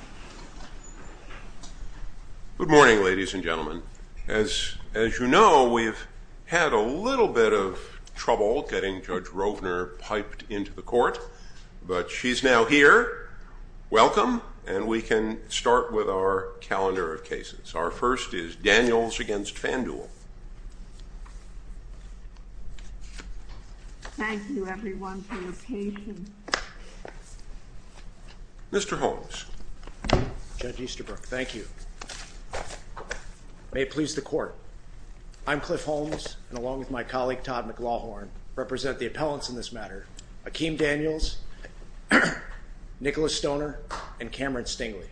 Daniels v. Fanduel, Inc. Mr. Holmes. Judge Easterbrook, thank you. May it please the Court. I'm Cliff Holmes, and along with my colleague, Todd McLaughlin, represent the appellants in this matter, Akeem Daniels, Nicholas Stoner, and Cameron Stingley.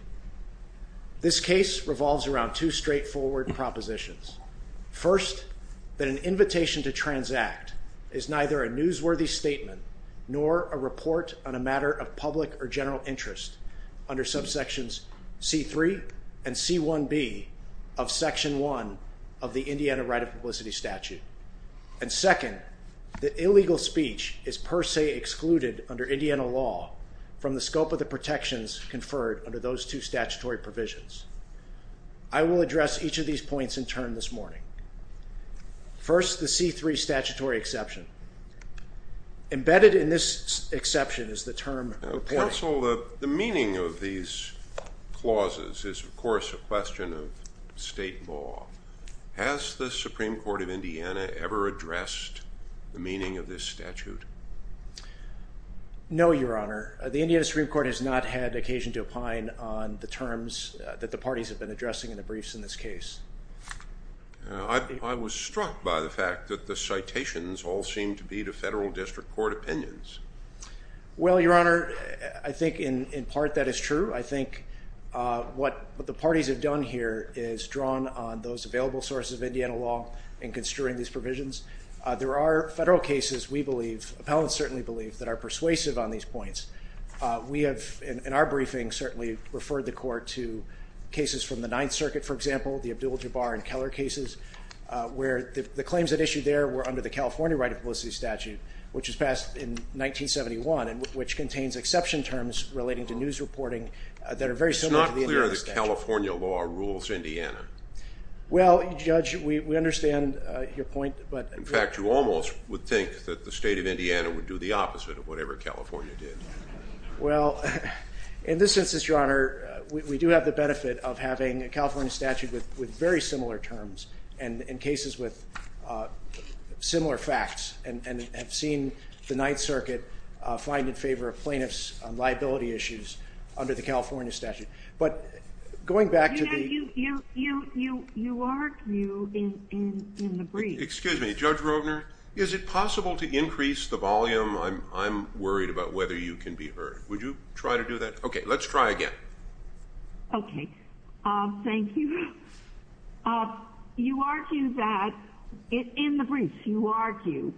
This case revolves around two straightforward propositions. First, that an invitation to transact is neither a newsworthy statement nor a report on a matter of public or general interest under subsections C-3 and C-1b of Section 1 of the Indiana Right of Publicity Statute. And second, that illegal speech is per se excluded under Indiana law from the scope of the protections conferred under those two statutory provisions. I will address each of these points in turn this morning. First, the C-3 statutory exception. Embedded in this exception is the term report. Counsel, the meaning of these clauses is, of course, a question of state law. Has the Supreme Court of Indiana ever addressed the meaning of this statute? No, Your Honor. The Indiana Supreme Court has not had occasion to opine on the terms that the parties have been addressing in the briefs in this case. I was struck by the fact that the citations all seem to be to federal district court opinions. Well, Your Honor, I think in part that is true. I think what the parties have done here is drawn on those available sources of Indiana law in construing these provisions. There are federal cases, we believe, appellants certainly believe, that are persuasive on these points. We have in our briefing certainly referred the court to cases from the Ninth Circuit, for example, the Abdul-Jabbar and Keller cases, where the claims that issued there were under the California right of publicity statute, which was passed in 1971 and which contains exception terms relating to news reporting that are very similar to the Indiana statute. It's not clear that California law rules Indiana. Well, Judge, we understand your point. In fact, you almost would think that the state of Indiana would do the opposite of whatever California did. Well, in this instance, Your Honor, we do have the benefit of having a California statute with very similar terms and in cases with similar facts and have seen the Ninth Circuit find in favor of plaintiffs on liability issues under the California statute. But going back to the ---- You are in the brief. Excuse me. Judge Rogner, is it possible to increase the volume? I'm worried about whether you can be heard. Would you try to do that? Okay. Let's try again. Okay. Thank you. You argue that in the brief, you argue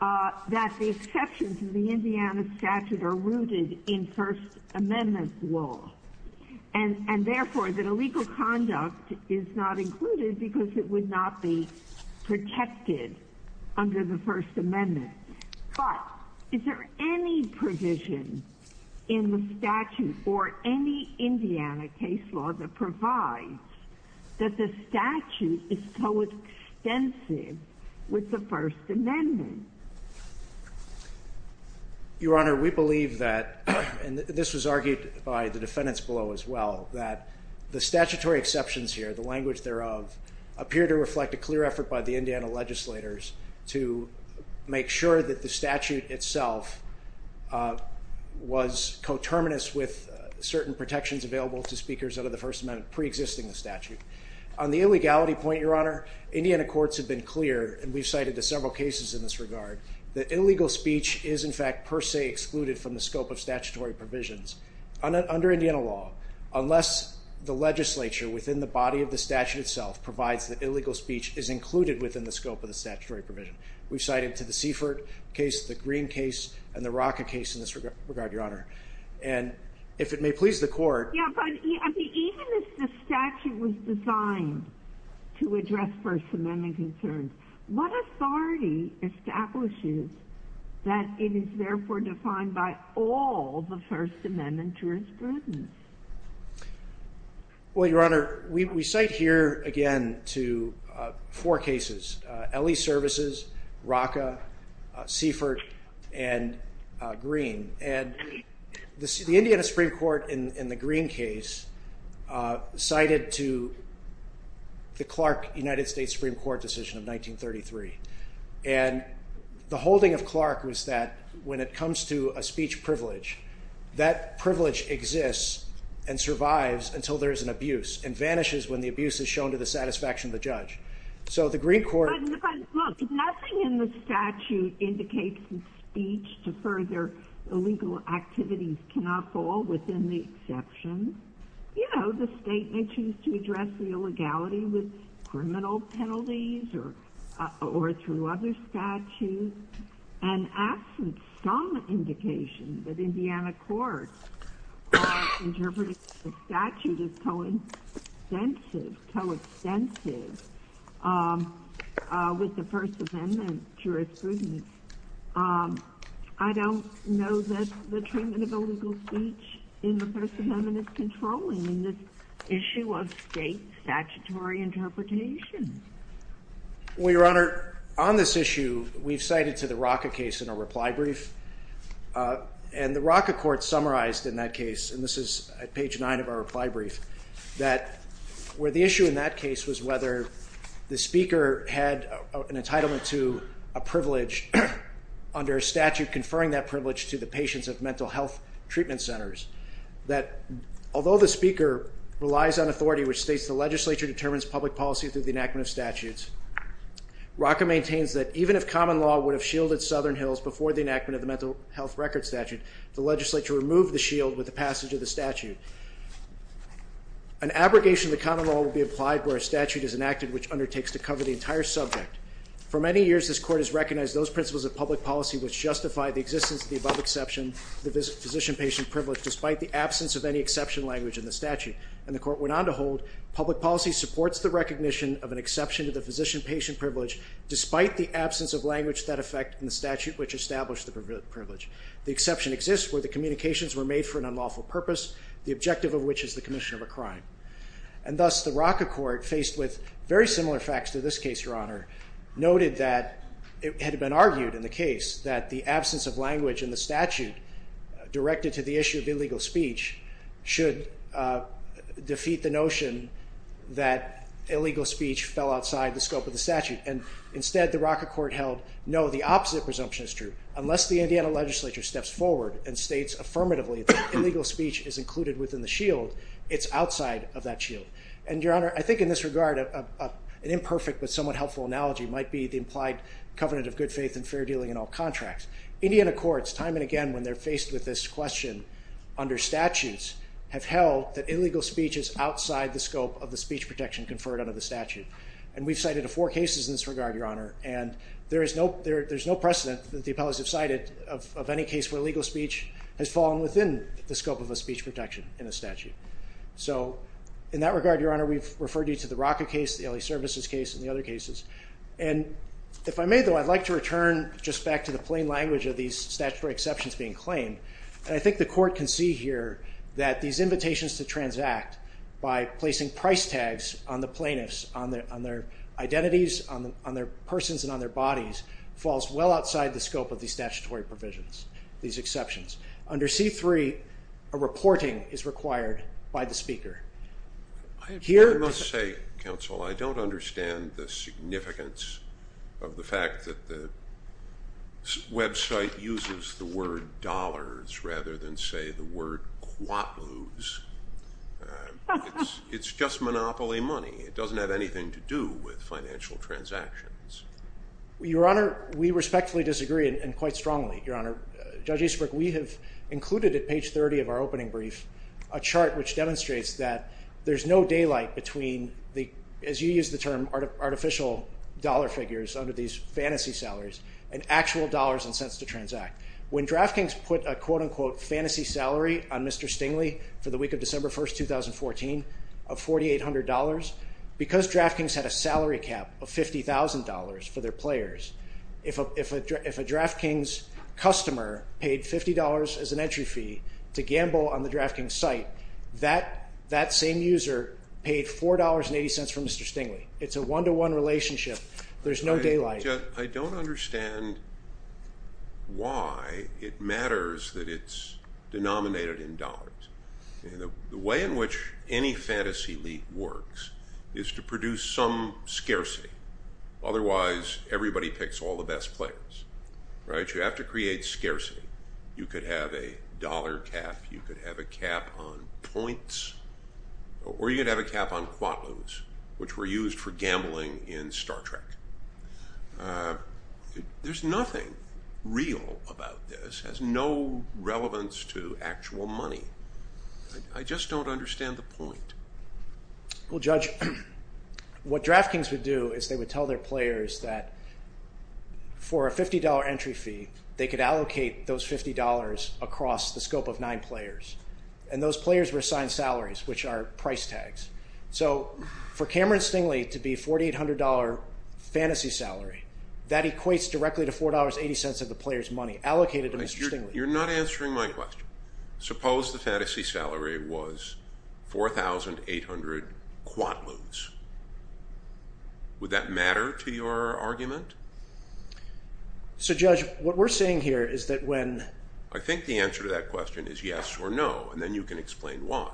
that the exceptions in the Indiana statute are rooted in First Amendment law and, therefore, that illegal conduct is not included because it would not be protected under the First Amendment. But is there any provision in the statute or any Indiana case law that provides that the statute is coextensive with the First Amendment? Your Honor, we believe that, and this was argued by the defendants below as well, that the statutory exceptions here, the language thereof, appear to reflect a clear effort by the Indiana legislators to make sure that the statute itself was coterminous with certain protections available to speakers under the First Amendment preexisting the statute. On the illegality point, Your Honor, Indiana courts have been clear, and we've cited several cases in this regard, that illegal speech is, in fact, per se excluded from the scope of statutory provisions. Under Indiana law, unless the legislature within the body of the statute itself provides that illegal speech is included within the scope of the statutory provision, we've cited to the Seifert case, the Green case, and the Rocca case in this regard, Your Honor. And if it may please the Court. Yeah, but even if the statute was designed to address First Amendment concerns, what authority establishes that it is, therefore, defined by all the First Amendment jurisprudence? Well, Your Honor, we cite here, again, to four cases, LE Services, Rocca, Seifert, and Green. And the Indiana Supreme Court, in the Green case, cited to the Clark United States Supreme Court decision of 1933. And the holding of Clark was that when it comes to a speech privilege, that privilege exists and survives until there is an abuse, and vanishes when the abuse is shown to the satisfaction of the judge. But look, nothing in the statute indicates that speech to further illegal activities cannot fall within the exception. You know, the state may choose to address the illegality with criminal penalties or through other statutes, and absent some indication that Indiana courts interpreted the statute as coextensive with the First Amendment jurisprudence. I don't know that the treatment of illegal speech in the First Amendment is controlling this issue of state statutory interpretation. Well, Your Honor, on this issue, we've cited to the Rocca case in our reply brief. And the Rocca court summarized in that case, and this is at page nine of our reply brief, that where the issue in that case was whether the speaker had an entitlement to a privilege under a statute conferring that privilege to the patients of mental health treatment centers, that although the speaker relies on authority which states the legislature determines public policy through the enactment of statutes, Rocca maintains that even if common law would have shielded Southern Hills before the enactment of the mental health record statute, the legislature removed the shield with the passage of the statute. An abrogation of the common law would be applied where a statute is enacted which undertakes to cover the entire subject. For many years, this court has recognized those principles of public policy which justify the existence of the above exception, the physician-patient privilege, despite the absence of any exception language in the statute. And the court went on to hold public policy supports the recognition of an exception to the physician-patient privilege despite the absence of language that effect in the statute which established the privilege. The exception exists where the communications were made for an unlawful purpose, the objective of which is the commission of a crime. And thus, the Rocca court, faced with very similar facts to this case, Your Honor, noted that it had been argued in the case that the absence of language in the statute directed to the issue of illegal speech should defeat the notion that illegal speech fell outside the scope of the statute. And instead, the Rocca court held, no, the opposite presumption is true. Unless the Indiana legislature steps forward and states affirmatively that illegal speech is included within the shield, it's outside of that shield. And, Your Honor, I think in this regard, an imperfect but somewhat helpful analogy might be the implied covenant of good faith and fair dealing in all contracts. Indiana courts, time and again when they're faced with this question under statutes, have held that illegal speech is outside the scope of the speech protection conferred under the statute. And we've cited four cases in this regard, Your Honor, and there is no precedent that the appellees have cited of any case where illegal speech has fallen within the scope of a speech protection in a statute. So, in that regard, Your Honor, we've referred you to the Rocca case, the LA Services case, and the other cases. And if I may, though, I'd like to return just back to the plain language of these statutory exceptions being claimed. And I think the court can see here that these invitations to transact by placing price tags on the plaintiffs, on their identities, on their persons and on their bodies, falls well outside the scope of these statutory provisions, these exceptions. Under C-3, a reporting is required by the speaker. I must say, counsel, I don't understand the significance of the fact that the website uses the word dollars rather than, say, the word kuatloos. It's just monopoly money. It doesn't have anything to do with financial transactions. Your Honor, we respectfully disagree, and quite strongly, Your Honor. Judge Easterbrook, we have included at page 30 of our opening brief a chart which demonstrates that there's no daylight between the, as you use the term, artificial dollar figures under these fantasy salaries and actual dollars and cents to transact. When DraftKings put a quote-unquote fantasy salary on Mr. Stingley for the week of December 1, 2014 of $4,800, because DraftKings had a salary cap of $50,000 for their players, if a DraftKings customer paid $50 as an entry fee to gamble on the DraftKings site, that same user paid $4.80 from Mr. Stingley. It's a one-to-one relationship. There's no daylight. I don't understand why it matters that it's denominated in dollars. The way in which any fantasy league works is to produce some scarcity. Otherwise, everybody picks all the best players. You have to create scarcity. You could have a dollar cap, you could have a cap on points, or you could have a cap on quotas, which were used for gambling in Star Trek. There's nothing real about this. It has no relevance to actual money. I just don't understand the point. Well, Judge, what DraftKings would do is they would tell their players that for a $50 entry fee, they could allocate those $50 across the scope of nine players. And those players were assigned salaries, which are price tags. So for Cameron Stingley to be a $4,800 fantasy salary, that equates directly to $4.80 of the player's money allocated to Mr. Stingley. You're not answering my question. Suppose the fantasy salary was $4,800 quant lose. Would that matter to your argument? So, Judge, what we're saying here is that when... I think the answer to that question is yes or no, and then you can explain why.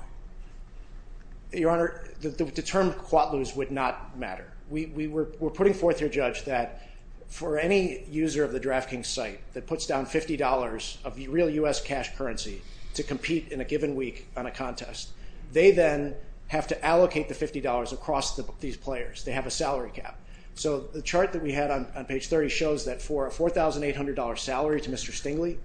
Your Honor, the term quant lose would not matter. We're putting forth here, Judge, that for any user of the DraftKings site that puts down $50 of real U.S. cash currency to compete in a given week on a contest, they then have to on page 30 shows that for a $4,800 salary to Mr. Stingley,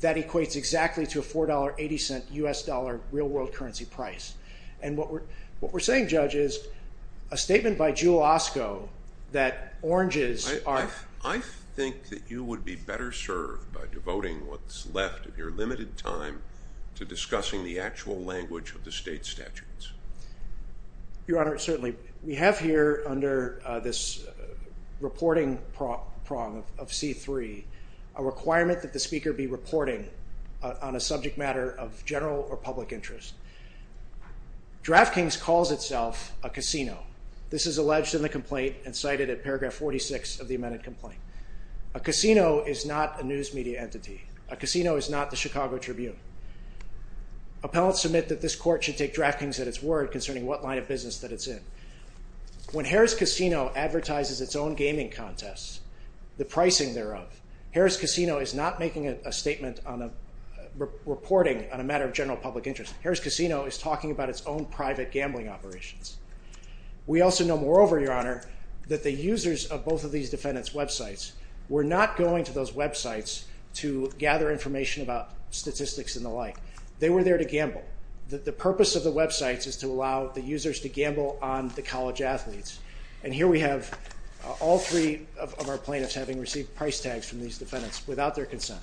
that equates exactly to a $4.80 U.S. dollar real world currency price. And what we're saying, Judge, is a statement by Jewel Osco that oranges are... I think that you would be better served by devoting what's left of your limited time to discussing the actual language of the state statutes. Your Honor, certainly. We have here under this reporting prong of C3 a requirement that the speaker be reporting on a subject matter of general or public interest. DraftKings calls itself a casino. This is alleged in the complaint and cited at paragraph 46 of the amended complaint. A casino is not a news media entity. A casino is not the Chicago Tribune. Appellants submit that this court should take DraftKings at its word concerning what line of business that it's in. When Harris Casino advertises its own gaming contests, the pricing thereof, Harris Casino is not making a statement on a reporting on a matter of general public interest. Harris Casino is talking about its own private gambling operations. We also know, moreover, Your Honor, that the users of both of those websites to gather information about statistics and the like, they were there to gamble. The purpose of the websites is to allow the users to gamble on the college athletes. And here we have all three of our plaintiffs having received price tags from these defendants without their consent.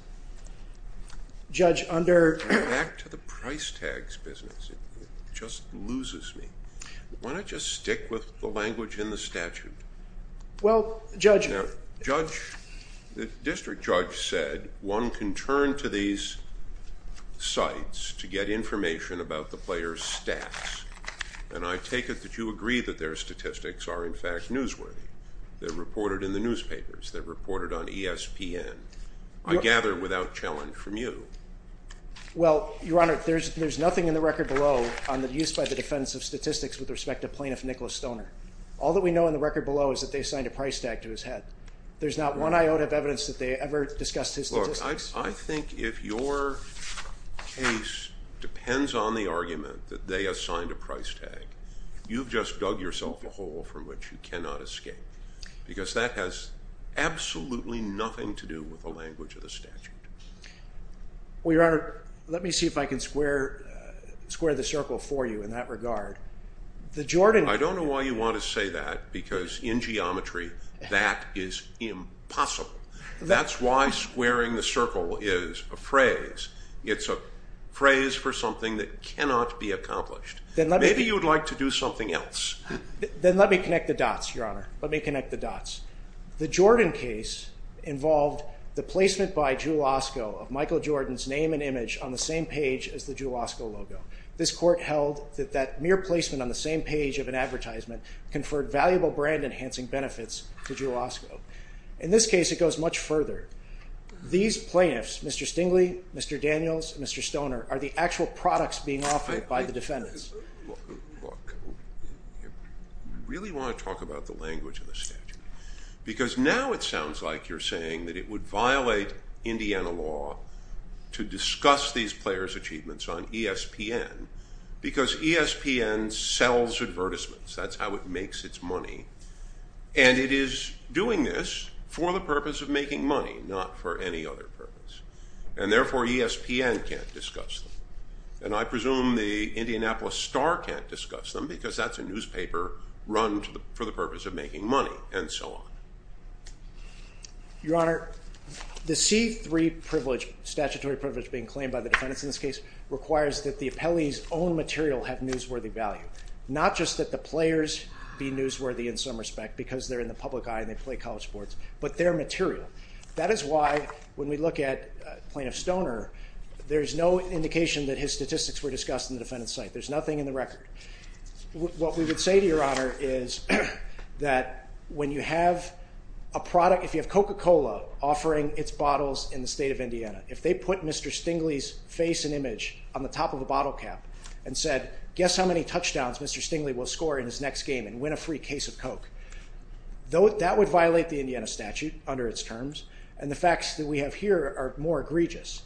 Judge, under... Back to the price tags business. It just loses me. Why not just stick with the language in the statute? Well, Judge... Now, Judge, the district judge said one can turn to these sites to get information about the player's stats. And I take it that you agree that their statistics are in fact newsworthy. They're reported in the newspapers. They're reported on ESPN. I gather without challenge from you. Well, Your Honor, there's nothing in the record below on the use by the defendants of statistics with respect to plaintiff Nicholas Stoner. All that we know in the record below is that they assigned a price tag to his head. There's not one iota of evidence that they ever discussed his statistics. Look, I think if your case depends on the argument that they assigned a price tag, you've just dug yourself a hole from which you cannot escape. Because that has absolutely nothing to do with the square the circle for you in that regard. I don't know why you want to say that because in geometry that is impossible. That's why squaring the circle is a phrase. It's a phrase for something that cannot be accomplished. Maybe you'd like to do something else. Then let me connect the dots, Your Honor. Let me connect the dots. The Jordan case involved the placement by Jewel Osco of Michael Jordan's name and image on the same page as the Jewel Osco logo. This court held that that mere placement on the same page of an advertisement conferred valuable brand enhancing benefits to Jewel Osco. In this case it goes much further. These plaintiffs, Mr. Stingley, Mr. Daniels, Mr. Stoner, are the actual products being offered by the defendants. Look, we really want to talk about the language of the statute. Because now it sounds like you're saying that it would violate Indiana law to discuss these players' achievements on ESPN because ESPN sells advertisements. That's how it makes its money. And it is doing this for the purpose of making money, not for any other purpose. And therefore ESPN can't discuss them. And I presume the Your Honor, the C3 privilege, statutory privilege being claimed by the defendants in this case, requires that the appellee's own material have newsworthy value. Not just that the players be newsworthy in some respect because they're in the public eye and they play college sports, but their material. That is why when we look at Plaintiff Stoner, there's no indication that his statistics were discussed in the That when you have a product, if you have Coca-Cola offering its bottles in the state of Indiana, if they put Mr. Stingley's face and image on the top of the bottle cap and said, guess how many touchdowns Mr. Stingley will score in his next game and win a free case of Coke. That would violate the Indiana statute under its terms. And the facts that we have here are more egregious.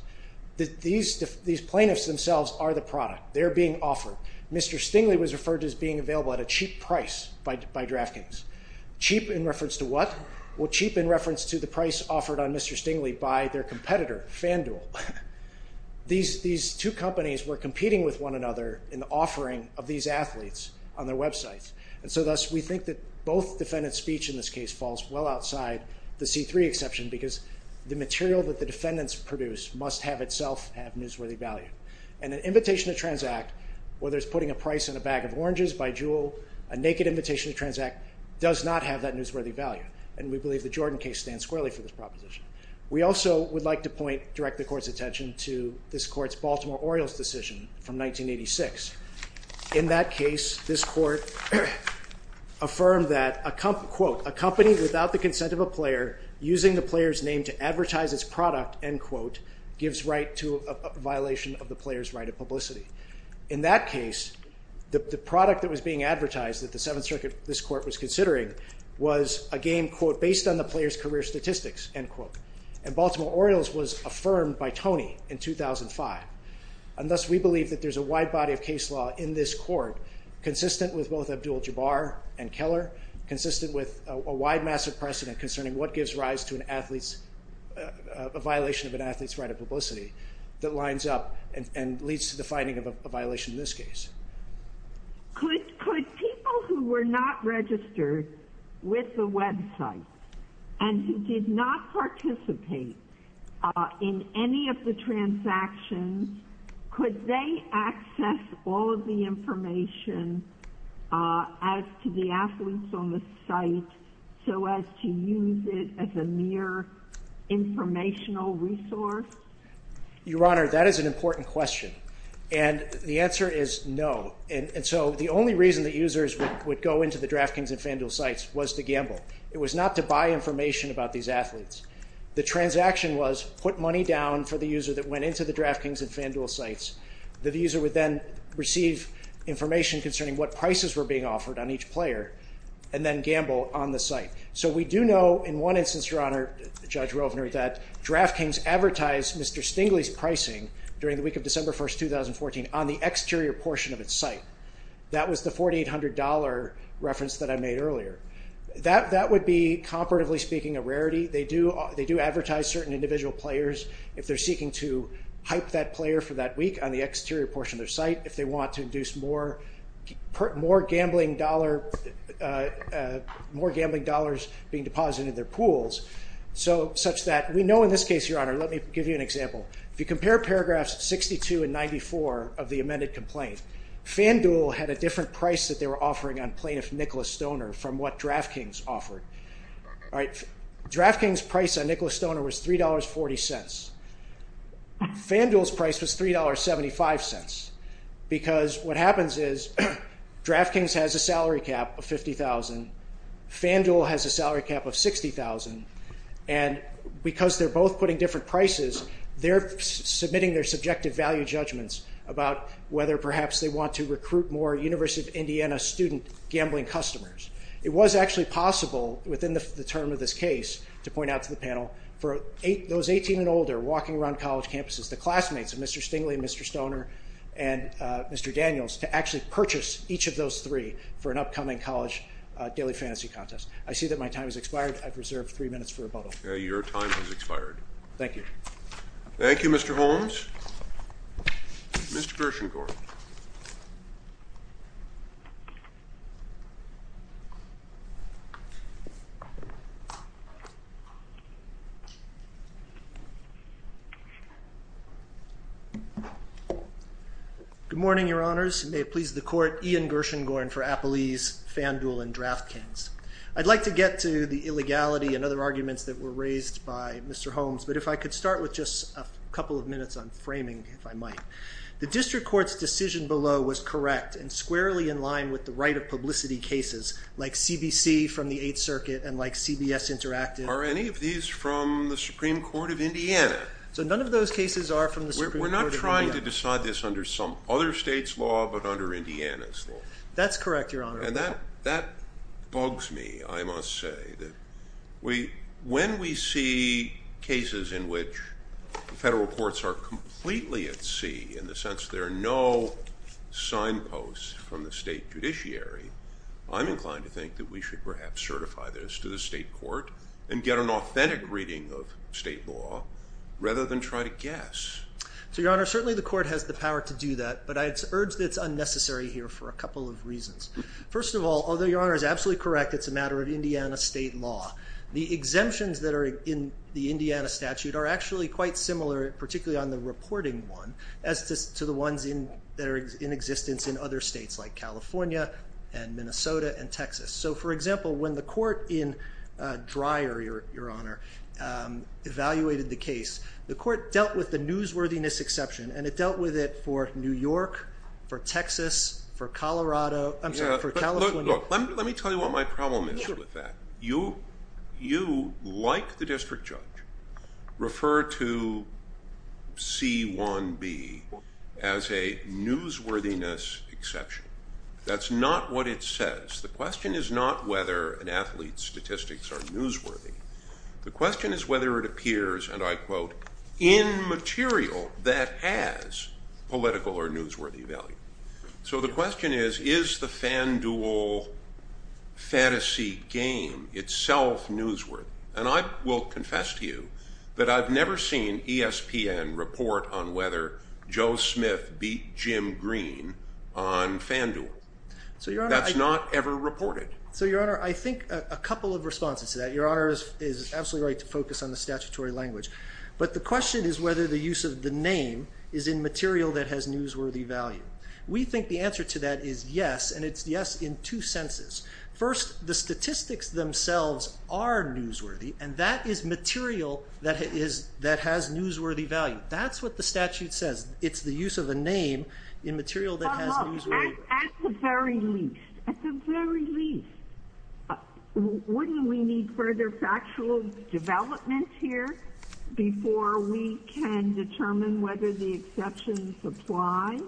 These plaintiffs themselves are the product. They're being offered. Mr. Stingley was referred to as being available at a cheap price by DraftKings. Cheap in reference to what? Well, cheap in reference to the price offered on Mr. Stingley by their competitor, FanDuel. These two companies were competing with one another in the offering of these athletes on their websites. And so thus we think that both defendant's speech in this case falls well outside the C3 exception because the material that the defendants produce must have itself have newsworthy value. And an invitation to transact where there's putting a price on a bag of oranges by Juul, a naked invitation to transact does not have that newsworthy value. And we believe the Jordan case stands squarely for this proposition. We also would like to point, direct the court's attention to this court's Baltimore Orioles decision from 1986. In that case, this court affirmed that a company without the consent of a player using the player's name to advertise its product gives right to a violation of the player's right of publicity. In that case, the product that was being advertised that the Seventh Circuit, this court was considering was a game, quote, based on the player's career statistics, end quote. And Baltimore Orioles was affirmed by Tony in 2005. And thus we believe that there's a wide body of consistent with a wide massive precedent concerning what gives rise to an athlete's violation of an athlete's right of publicity that lines up and leads to the finding of a violation in this case. Could people who were not registered with the website and who did not participate in any of the transactions, could they access all of the information as to the athletes on the site so as to use it as a mere informational resource? Your Honor, that is an important question. And the answer is no. And so the only reason that users would go into the DraftKings and FanDuel sites was to gamble. It was not to buy information about these athletes. The transaction was put money down for the user that went into the DraftKings and FanDuel sites that the user would then receive information concerning what prices were being offered on each player and then gamble on the site. So we do know in one instance, Your Honor, Judge Rovner, that DraftKings advertised Mr. Stingley's pricing during the week of December 1st, 2014 on the exterior portion of its site. That was the $4,800 reference that I made earlier. That would be comparatively speaking a rarity. They do advertise certain individual players if they're seeking to hype that player for that week on the exterior portion of their site if they want to induce more gambling dollars being deposited in their pools, such that we know in this case, Your Honor, let me give you an example. If you compare paragraphs 62 and 94 of the amended complaint, FanDuel had a different price that they were offering on plaintiff Nicholas Stoner from what DraftKings offered. DraftKings' price on Nicholas Stoner was $3.40. FanDuel's price was $3.75 because what happens is DraftKings has a salary cap of $50,000. FanDuel has a salary cap of $60,000 and because they're both putting different prices they're submitting their subjective value judgments about whether perhaps they want to recruit more University of Indiana student gambling customers. It was actually possible within the term of this case to point out to the panel for those 18 and older walking around college campuses, the classmates of Mr. Stingley and Mr. Stoner and Mr. Daniels to actually purchase each of those three for an upcoming college daily fantasy contest. I see that my time has expired. I've reserved three minutes for rebuttal. Your time has expired. Thank you. Thank you, Mr. Holmes. Mr. Gershengorn. Good morning, Your Honors. May it please the court. Ian Gershengorn for Appalese, FanDuel, and DraftKings. I'd like to get to the illegality and other arguments that were raised by Mr. Holmes, but if I could start with just a couple of minutes on framing, if I might. The district court's decision below was correct and squarely in line with the right of publicity cases like CBC from the Eighth Circuit and like CBS Interactive. Are any of these from the Supreme Court of Indiana? So none of those cases are from the Supreme Court of Indiana. We're not trying to decide this under some other state's law, but under Indiana's law. That's correct, Your Honor. And that bugs me, I must say. When we see cases in which federal courts are completely at sea, in the sense there are no signposts from the state judiciary, I'm inclined to think that we should perhaps certify this to the state court and get an authentic reading of state law rather than try to guess. So, Your Honor, certainly the court has the power to do that, but I urge that it's unnecessary here for a couple of reasons. First of all, although Your Honor is absolutely correct, it's a matter of Indiana state law. The exemptions that are in the Indiana statute are actually quite similar, particularly on the reporting one, as to the ones that are in existence in other states like California and Minnesota and Texas. So, for example, when the court in Dreyer, Your Honor, evaluated the case, the court dealt with the newsworthiness exception, and it dealt with it for New York, for Texas, for California. Let me tell you what my problem is with that. You, like the district judge, refer to C1B as a newsworthiness exception. That's not what it says. The question is not whether an athlete's statistics are newsworthy. The question is whether it appears, and I quote, in material that has political or newsworthy value. So the question is, is the FanDuel fantasy game itself newsworthy? And I will confess to you that I've never seen ESPN report on whether Joe Smith beat Jim Green on FanDuel. That's not ever reported. So, Your Honor, I think a couple of responses to that. Your Honor is absolutely right to focus on the statutory language. But the question is whether the use of the name is in material that has newsworthy value. We think the answer to that is yes, and it's yes in two senses. First, the statistics themselves are newsworthy, and that is material that has newsworthy value. That's what the statute says. It's the use of a name in material that has newsworthy value. At the very least, wouldn't we need further factual development here before we can determine whether the exceptions apply?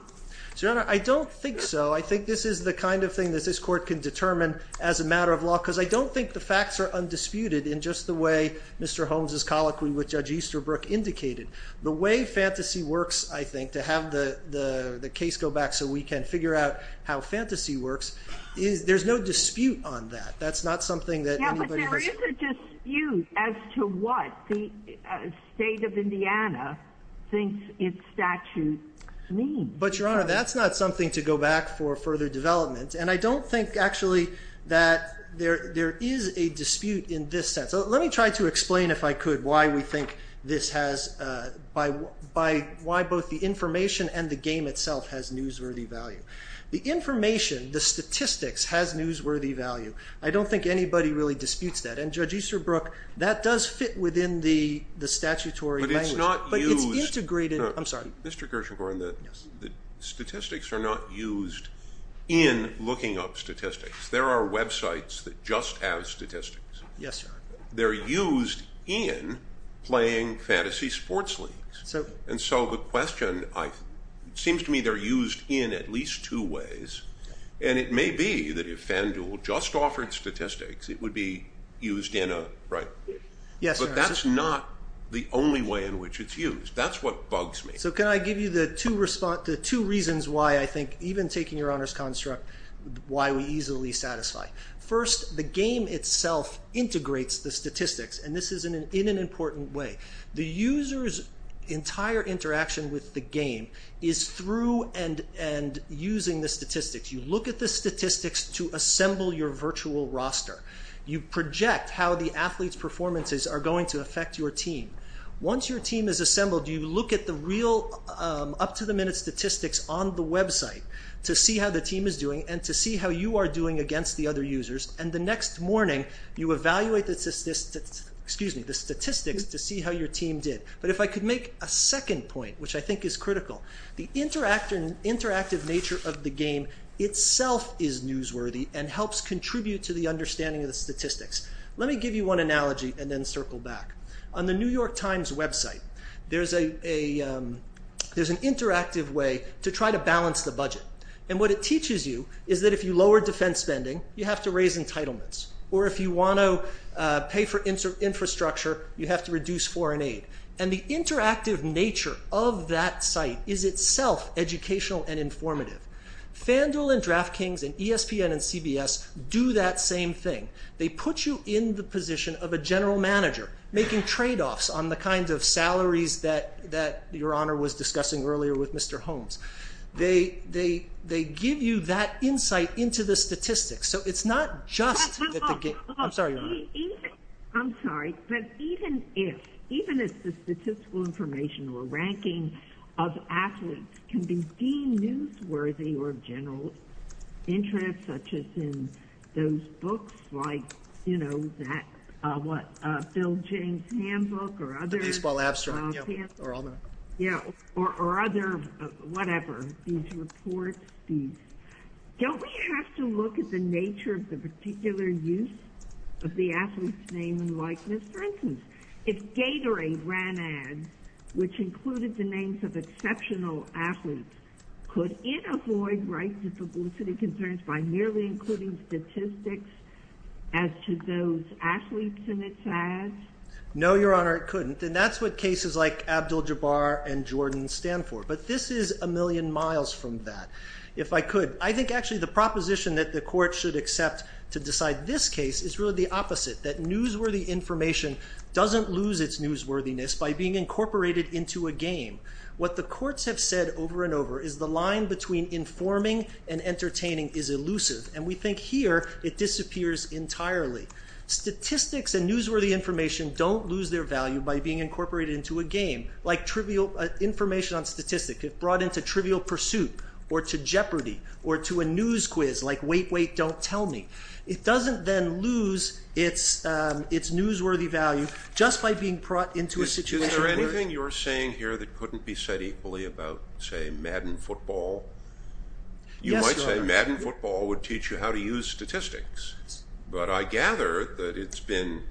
Your Honor, I don't think so. I think this is the kind of thing that this Court can determine as a matter of law, because I don't think the facts are undisputed in just the way Mr. Holmes' colloquy with Judge Easterbrook indicated. The way fantasy works, I think, to have the case go back so we can figure out how fantasy works, there's no dispute on that. That's not something that anybody has... Yeah, but there is a dispute as to what the state of Indiana thinks its statute means. But, Your Honor, that's not something to go back for further development. And I don't think, actually, that there is a dispute in this sense. Let me try to explain, if I could, why we think this has... why both the information and the game itself has newsworthy value. The information, the statistics, has newsworthy value. I don't think anybody really disputes that. And Judge Easterbrook, that does fit within the statutory language. But it's integrated... Statistics are not used in looking up statistics. There are websites that just have statistics. They're used in playing fantasy sports leagues. And so the question, it seems to me, they're used in at least two ways. And it may be that if FanDuel just offered statistics, it would be used in a... But that's not the only way in which it's used. That's what bugs me. So can I give you the two reasons why I think, even taking Your Honor's construct, why we easily satisfy. First, the game itself integrates the statistics. And this is in an important way. The user's entire interaction with the game is through and using the statistics. You look at the statistics to assemble your virtual roster. You project how the athlete's performances are going to affect your team. Once your team is assembled, you look at the real up-to-the-minute statistics on the website to see how the team is doing and to see how you are doing against the other users. And the next morning, you evaluate the statistics to see how your team did. But if I could make a second point, which I think is critical. The interactive nature of the game itself is newsworthy and helps contribute to the understanding of the statistics. Let me give you one analogy and then circle back. On the New York Times website, there's an interactive way to try to balance the budget. And what it teaches you is that if you lower defense spending, you have to raise entitlements. Or if you want to pay for infrastructure, you have to reduce foreign aid. And the interactive nature of that site is itself educational and informative. FanDuel and DraftKings and ESPN and CBS do that same thing. They put you in the position of a general manager, making tradeoffs on the kinds of salaries that Your Honor was discussing earlier with Mr. Holmes. They give you that insight into the statistics. I'm sorry, Your Honor. Even if the statistical information or ranking of athletes can be deemed newsworthy or of general interest, such as in those books like, you know, that, what, Bill James handbook or other... The Baseball Abstract, yeah, or I'll know. Or other, whatever, these reports. Don't we have to look at the nature of the particular use of the athlete's name and likeness? For instance, if Gatorade ran ads which included the names of exceptional athletes, could it avoid rights of publicity concerns by merely including statistics as to those athletes in its ads? No, Your Honor, it couldn't. And that's what cases like Abdul-Jabbar and Jordan stand for. But this is a million miles from that. If I could, I think actually the proposition that the court should accept to decide this case is really the opposite, that newsworthy information doesn't lose its newsworthiness by being incorporated into a game. What the courts have said over and over is the line between informing and entertaining is elusive, and we think here it disappears entirely. Statistics and newsworthy information don't lose their value by being incorporated into a game, like information on statistics, if brought into Trivial Pursuit or to Jeopardy or to a news quiz like Wait, Wait, Don't Tell Me. It doesn't then lose its newsworthy value just by being brought into a situation... Is there anything you're saying here that couldn't be said equally about, say, Madden Football? Yes, Your Honor. You might say Madden Football would teach you how to use statistics, but I gather that it's been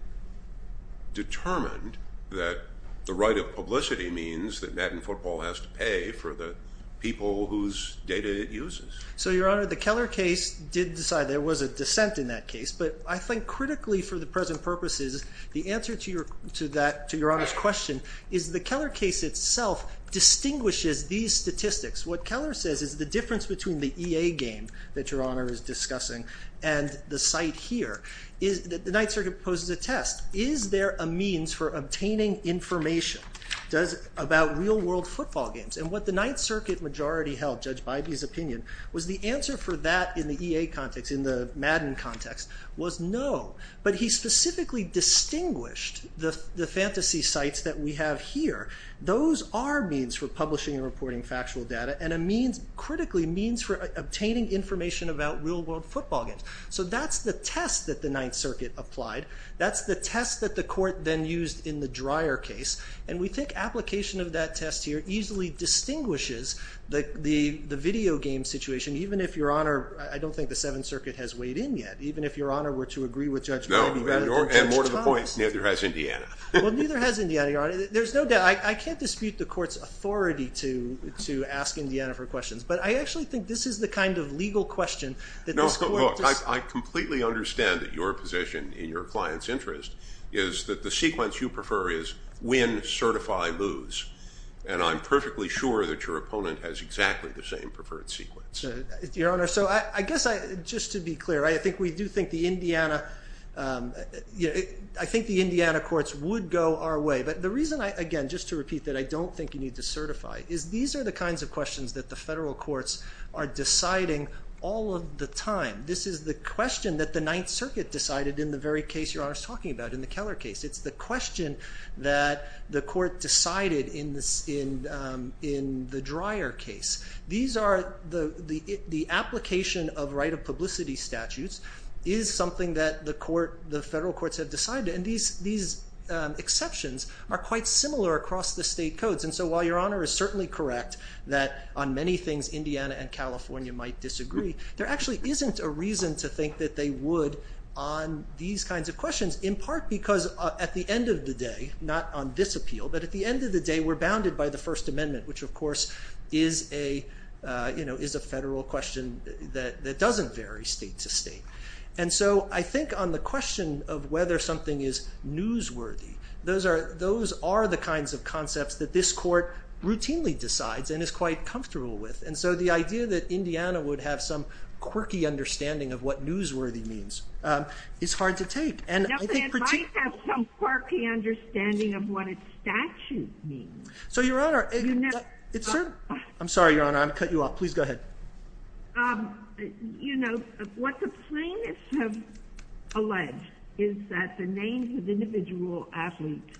determined that the right of publicity means that Madden Football has to pay for the people whose data it uses. So, Your Honor, the Keller case did decide there was a dissent in that case, but I think critically for the present purposes, the answer to that, to Your Honor's question, is the Keller case itself distinguishes these statistics. What Keller says is the difference between the EA game that Your Honor is discussing and the site here. The Ninth Circuit poses a test. Is there a means for obtaining information about real-world football games? And what the Ninth Circuit majority held, Judge Bybee's opinion, was the answer for that in the EA context, in the Madden context, was no. But he specifically distinguished the fantasy sites that we have here. Those are means for publishing and reporting factual data, and a means, critically, means for obtaining information about real-world football games. So that's the test that the Ninth Circuit applied. That's the test that the Court then used in the Dreyer case, and we think application of that test here easily distinguishes the video game situation, even if Your Honor, I don't think the Seventh Circuit has weighed in yet, even if Your Honor were to agree with Judge Bybee rather than Judge Thomas. And more to the point, neither has Indiana. Well, neither has Indiana, Your Honor. There's no doubt. I can't dispute the Court's authority to ask Indiana for questions, but I actually think this is the kind of legal question that this Court No, look, I completely understand that your position in your client's interest is that the sequence you prefer is win, certify, lose. And I'm perfectly sure that your opponent has exactly the same preferred sequence. Your Honor, so I guess I, just to be clear, I think we do think the Indiana, I think the Indiana courts would go our way. But the reason I, again, just to repeat that I don't think you need to certify, is these are the kinds of questions that the federal courts are deciding all of the time. This is the question that the Ninth Circuit decided in the very case Your Honor is talking about, in the Keller case. It's the question that the court decided in the Dreyer case. These are, the application of right of publicity statutes is something that the court, the federal courts have decided. And these exceptions are quite similar across the state codes. And so while Your Honor is certainly correct that on many things Indiana and California might disagree, there actually isn't a reason to think that they would on these kinds of questions, in part because at the end of the day not on this appeal, but at the end of the day we're bounded by the First Amendment, which of course is a federal question that doesn't vary state to state. And so I think on the question of whether something is newsworthy, those are the kinds of concepts that this court routinely decides and is quite comfortable with. And so the idea that Indiana would have some quirky understanding of what newsworthy means is hard to take. And I think particularly... It might have some quirky understanding of what a statute means. So Your Honor... I'm sorry Your Honor, I'm going to cut you off. Please go ahead. You know, what the plaintiffs have alleged is that the names of individual athletes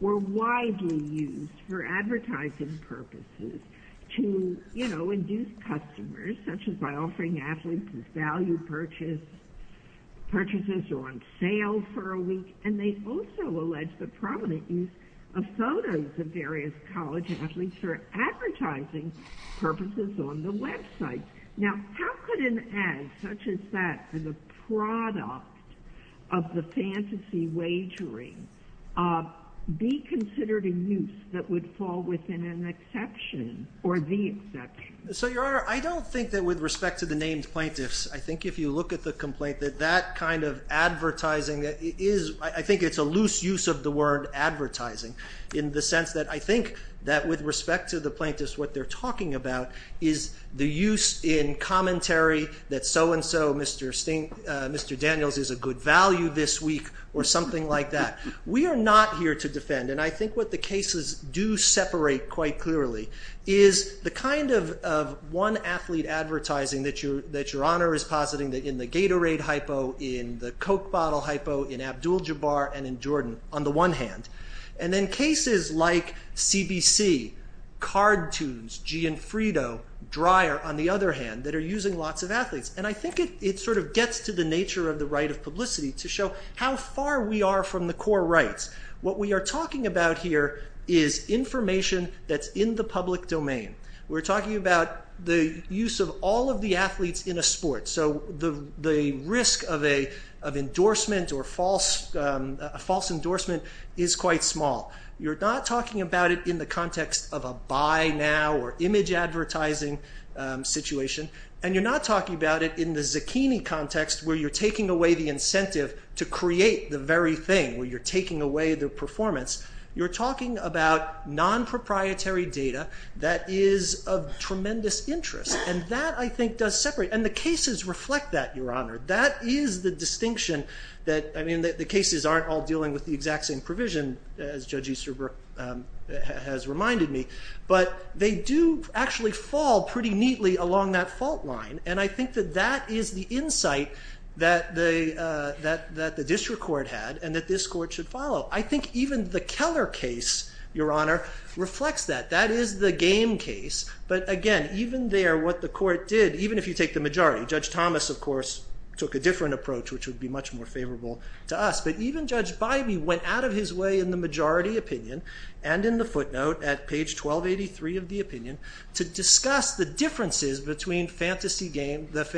were widely used for advertising purposes to, you know, induce customers, such as by offering athletes as value purchases or on sale for a week. And they also allege the prominent use of photos of various college athletes for advertising purposes on the website. Now, how could an ad such as that for the product of the fantasy wagering be considered a use that would fall within an exception or the exception? So Your Honor, I don't think that with respect to the named plaintiffs, I think if you look at the complaint that that kind of advertising is... I think it's a loose use of the word advertising in the sense that I think that with respect to the plaintiffs, what they're talking about is the use in commentary that so-and-so, Mr. Daniels, is a good value this week or something like that. We are not here to defend. And I think what the cases do separate quite clearly is the kind of one-athlete advertising that Your Honor is positing in the Gatorade hypo, in the Coke bottle hypo, in Abdul-Jabbar, and in Jordan, on the one hand. And then cases like CBC, Cardtoons, Gianfrido, Dryer, on the other hand, that are using lots of athletes. And I think it sort of gets to the nature of the right of publicity to show how far we are from the core rights. What we are talking about here is information that's in the public domain. We're talking about the use of all of the athletes in a sport. So the risk of endorsement or false endorsement is quite small. You're not talking about it in the context of a buy now or image advertising situation. And you're not talking about it in the Zucchini context where you're taking away the incentive to create the very thing, where you're taking away the performance. You're talking about non-proprietary data that is of tremendous interest. And that, I think, does separate. And the cases reflect that, Your Honor. That is the distinction that... I mean, the cases aren't all dealing with the exact same provision, as Judge Easterbrook has reminded me. But they do actually fall pretty neatly along that fault line. And I think that that is the insight that the district court had and that this court should follow. I think even the Keller case, Your Honor, reflects that. That is the game case. But again, even there, what the court did, even if you take the majority, Judge Thomas, of course, took a different approach, which would be much more favorable to us. But even Judge Bybee went out of his way in the majority opinion and in the footnote at page 1283 of the opinion to discuss the differences between the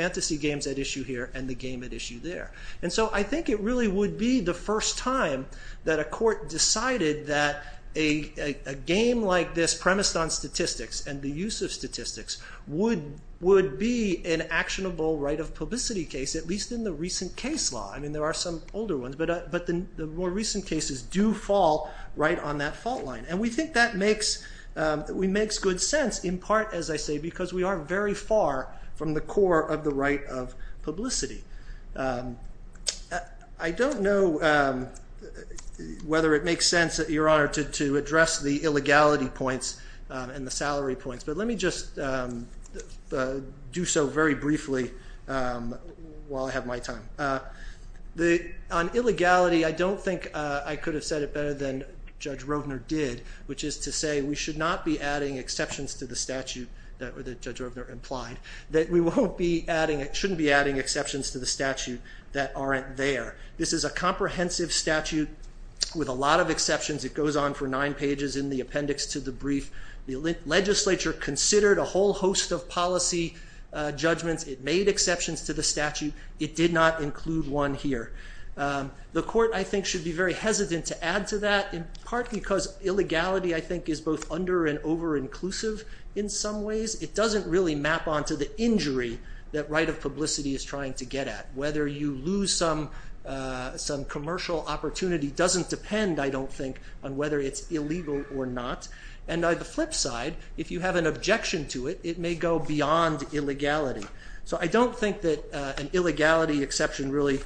fantasy games at issue here and the game at issue there. And so I think it really would be the first time that a court decided that a game like this premised on statistics and the use of statistics would be an actionable right of publicity case, at least in the recent case law. I mean, there are some older ones, but the more recent cases do fall right on that fault line. And we think that makes good sense, in part, as I say, because we are very far from the core of the right of publicity. I don't know whether it makes sense, Your Honor, to address the illegality points and the salary points, but let me just do so very briefly while I have my time. On illegality, I don't think I could have said it better than Judge Roedner did, which is to say we should not be adding exceptions to the statute that Judge Roedner implied, that we shouldn't be adding exceptions to the statute that aren't there. This is a comprehensive statute with a lot of exceptions. It goes on for nine pages in the appendix to the brief. The legislature considered a whole host of policy judgments. It made exceptions to the statute. It did not include one here. The court, I think, should be very hesitant to add to that, in part because illegality, I think, is both under- and over-inclusive in some ways. It doesn't really map onto the injury that right of publicity is trying to get at. Whether you lose some commercial opportunity doesn't depend, I don't think, on whether it's illegal or not. And on the flip side, if you have an objection to it, it may go beyond illegality. So I don't think that an illegality exception really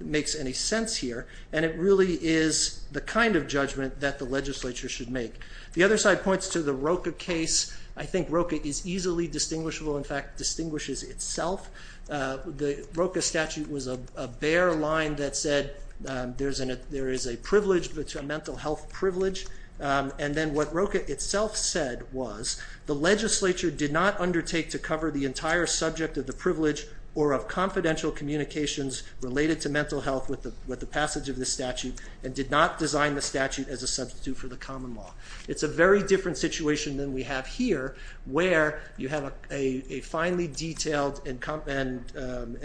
makes any sense here, and it really is the kind of judgment that the legislature should make. The other side points to the Rocha case. I think Rocha is easily distinguishable. In fact, it distinguishes itself. The Rocha statute was a bare line that said, there is a mental health privilege. And then what Rocha itself said was, the legislature did not undertake to cover the entire subject of the privilege or of confidential communications related to mental health with the passage of the statute and did not design the statute as a substitute for the common law. It's a very different situation than we have here, where you have a finely detailed and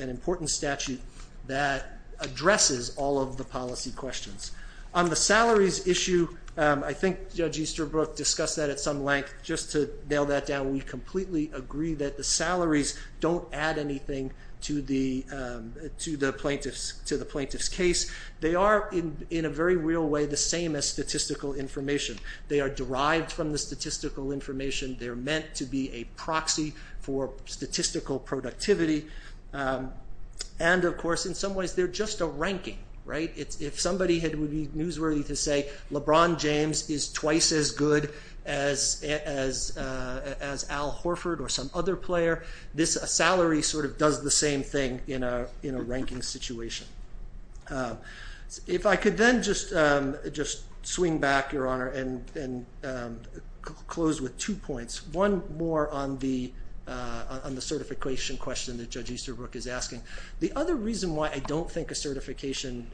important statute that addresses all of the policy questions. On the salaries issue, I think Judge Easterbrook discussed that at some length. Just to nail that down, we completely agree that the salaries don't add anything to the plaintiff's case. They are, in a very real way, the same as statistical information. They are derived from the statistical information. They're meant to be a proxy for statistical productivity. And of course, in some ways, they're just a ranking. If somebody would be newsworthy to say, LeBron James is twice as good as Al Horford or some other player, this salary sort of does the same thing in a ranking situation. If I could then just swing back, Your Honor, and close with two points. One more on the certification question that Judge Easterbrook is asking. The other reason why I don't think a certification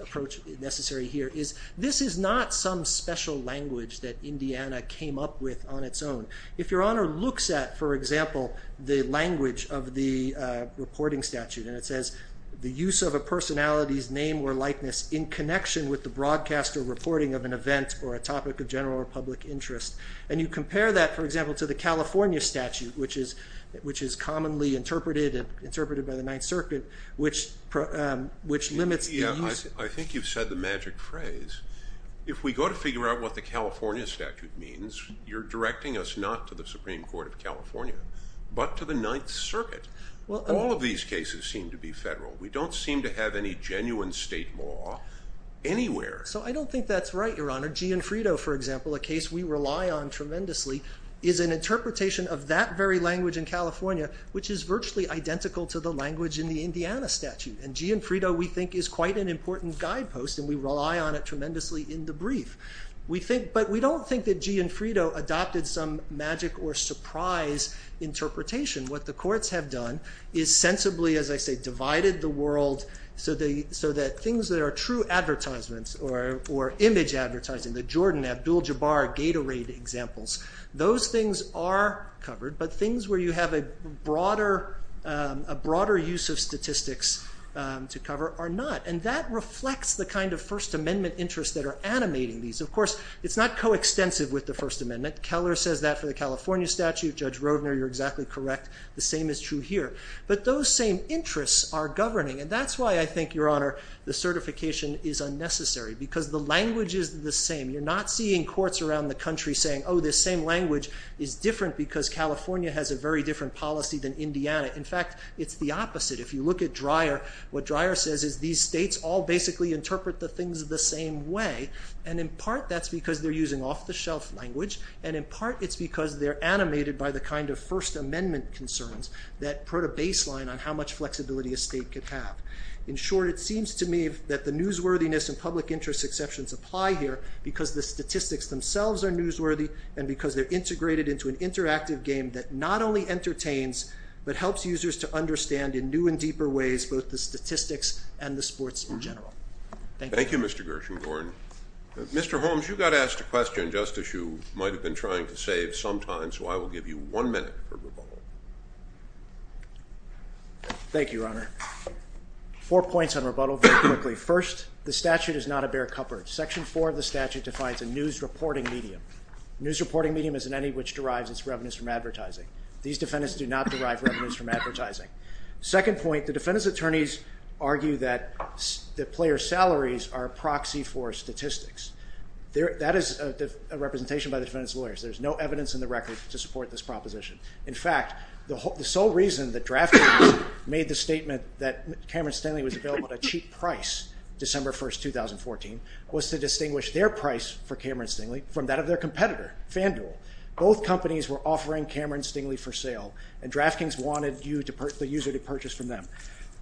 approach is necessary here is, this is not some special language that Indiana came up with on its own. If Your Honor looks at, for example, the language of the reporting statute, and it says, the use of a personality's name or likeness in connection with the broadcast or reporting of an event or a topic of general or public interest, and you compare that, for example, to the California statute, which is commonly interpreted by the Ninth Circuit, which limits the use... I think you've said the magic phrase. If we go to figure out what the California statute means, you're directing us not to the Supreme Court of California, but to the Ninth Circuit. All of these cases seem to be federal. We don't seem to have any genuine state law anywhere. So I don't think that's right, Your Honor. Gianfrido, for example, a case we rely on tremendously, is an interpretation of that very language in California, which is virtually identical to the language in the Indiana statute. And Gianfrido, we think, is quite an important guidepost, and we rely on it tremendously in the brief. But we don't think that Gianfrido adopted some magic or surprise interpretation. What the courts have done is sensibly, as I say, divided the world so that things that are true advertisements or image advertising, the Jordan, Abdul-Jabbar, Gatorade examples, those things are covered. But things where you have a broader use of statistics to cover are not. And that reflects the kind of First Amendment interests that are animating these. Of course, it's not coextensive with the First Amendment. Keller says that for the California statute. Judge Roedner, you're exactly correct. The same is true here. But those same interests are governing. And that's why I think, Your Honor, the certification is unnecessary. Because the same language is different because California has a very different policy than Indiana. In fact, it's the opposite. If you look at Dreyer, what Dreyer says is these states all basically interpret the things the same way. And in part, that's because they're using off-the-shelf language. And in part, it's because they're animated by the kind of First Amendment concerns that put a baseline on how much flexibility a state could have. In short, it seems to me that the newsworthiness and public interest exceptions apply here because the statistics themselves are newsworthy and because they're integrated into an interactive game that not only entertains but helps users to understand in new and deeper ways both the statistics and the sports in general. Thank you. Thank you, Mr. Gershengorn. Mr. Holmes, you got asked a question just as you might have been trying to save some time. So I will give you one minute for rebuttal. Thank you, Your Honor. Four points on rebuttal very quickly. First, the statute is not a bare cupboard. Section 4 of the statute defines a news reporting medium. News reporting medium is in any which derives its revenues from advertising. These defendants do not derive revenues from advertising. Second point, the defendant's attorneys argue that the player's salaries are a proxy for statistics. That is a representation by the defendant's record to support this proposition. In fact, the sole reason that DraftKings made the statement that Cameron Stingley was available at a cheap price December 1, 2014 was to distinguish their price for Cameron Stingley from that of their competitor, FanDuel. Both companies were offering Cameron Stingley for sale and DraftKings wanted the user to purchase from them.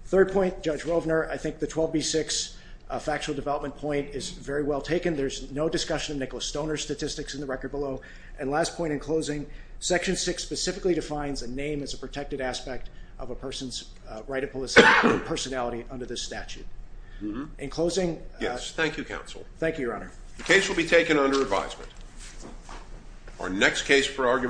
Third point, Judge Rovner, I think the 12B6 factual development point is very well taken. There's no discussion of Nicholas Stoner's statistics in the record below. And last point in closing, Section 6 specifically defines a name as a protected aspect of a person's right of personality under this statute. In closing... Yes, thank you, Counsel. Thank you, Your Honor. The case will be taken under advisement. Our next case for argument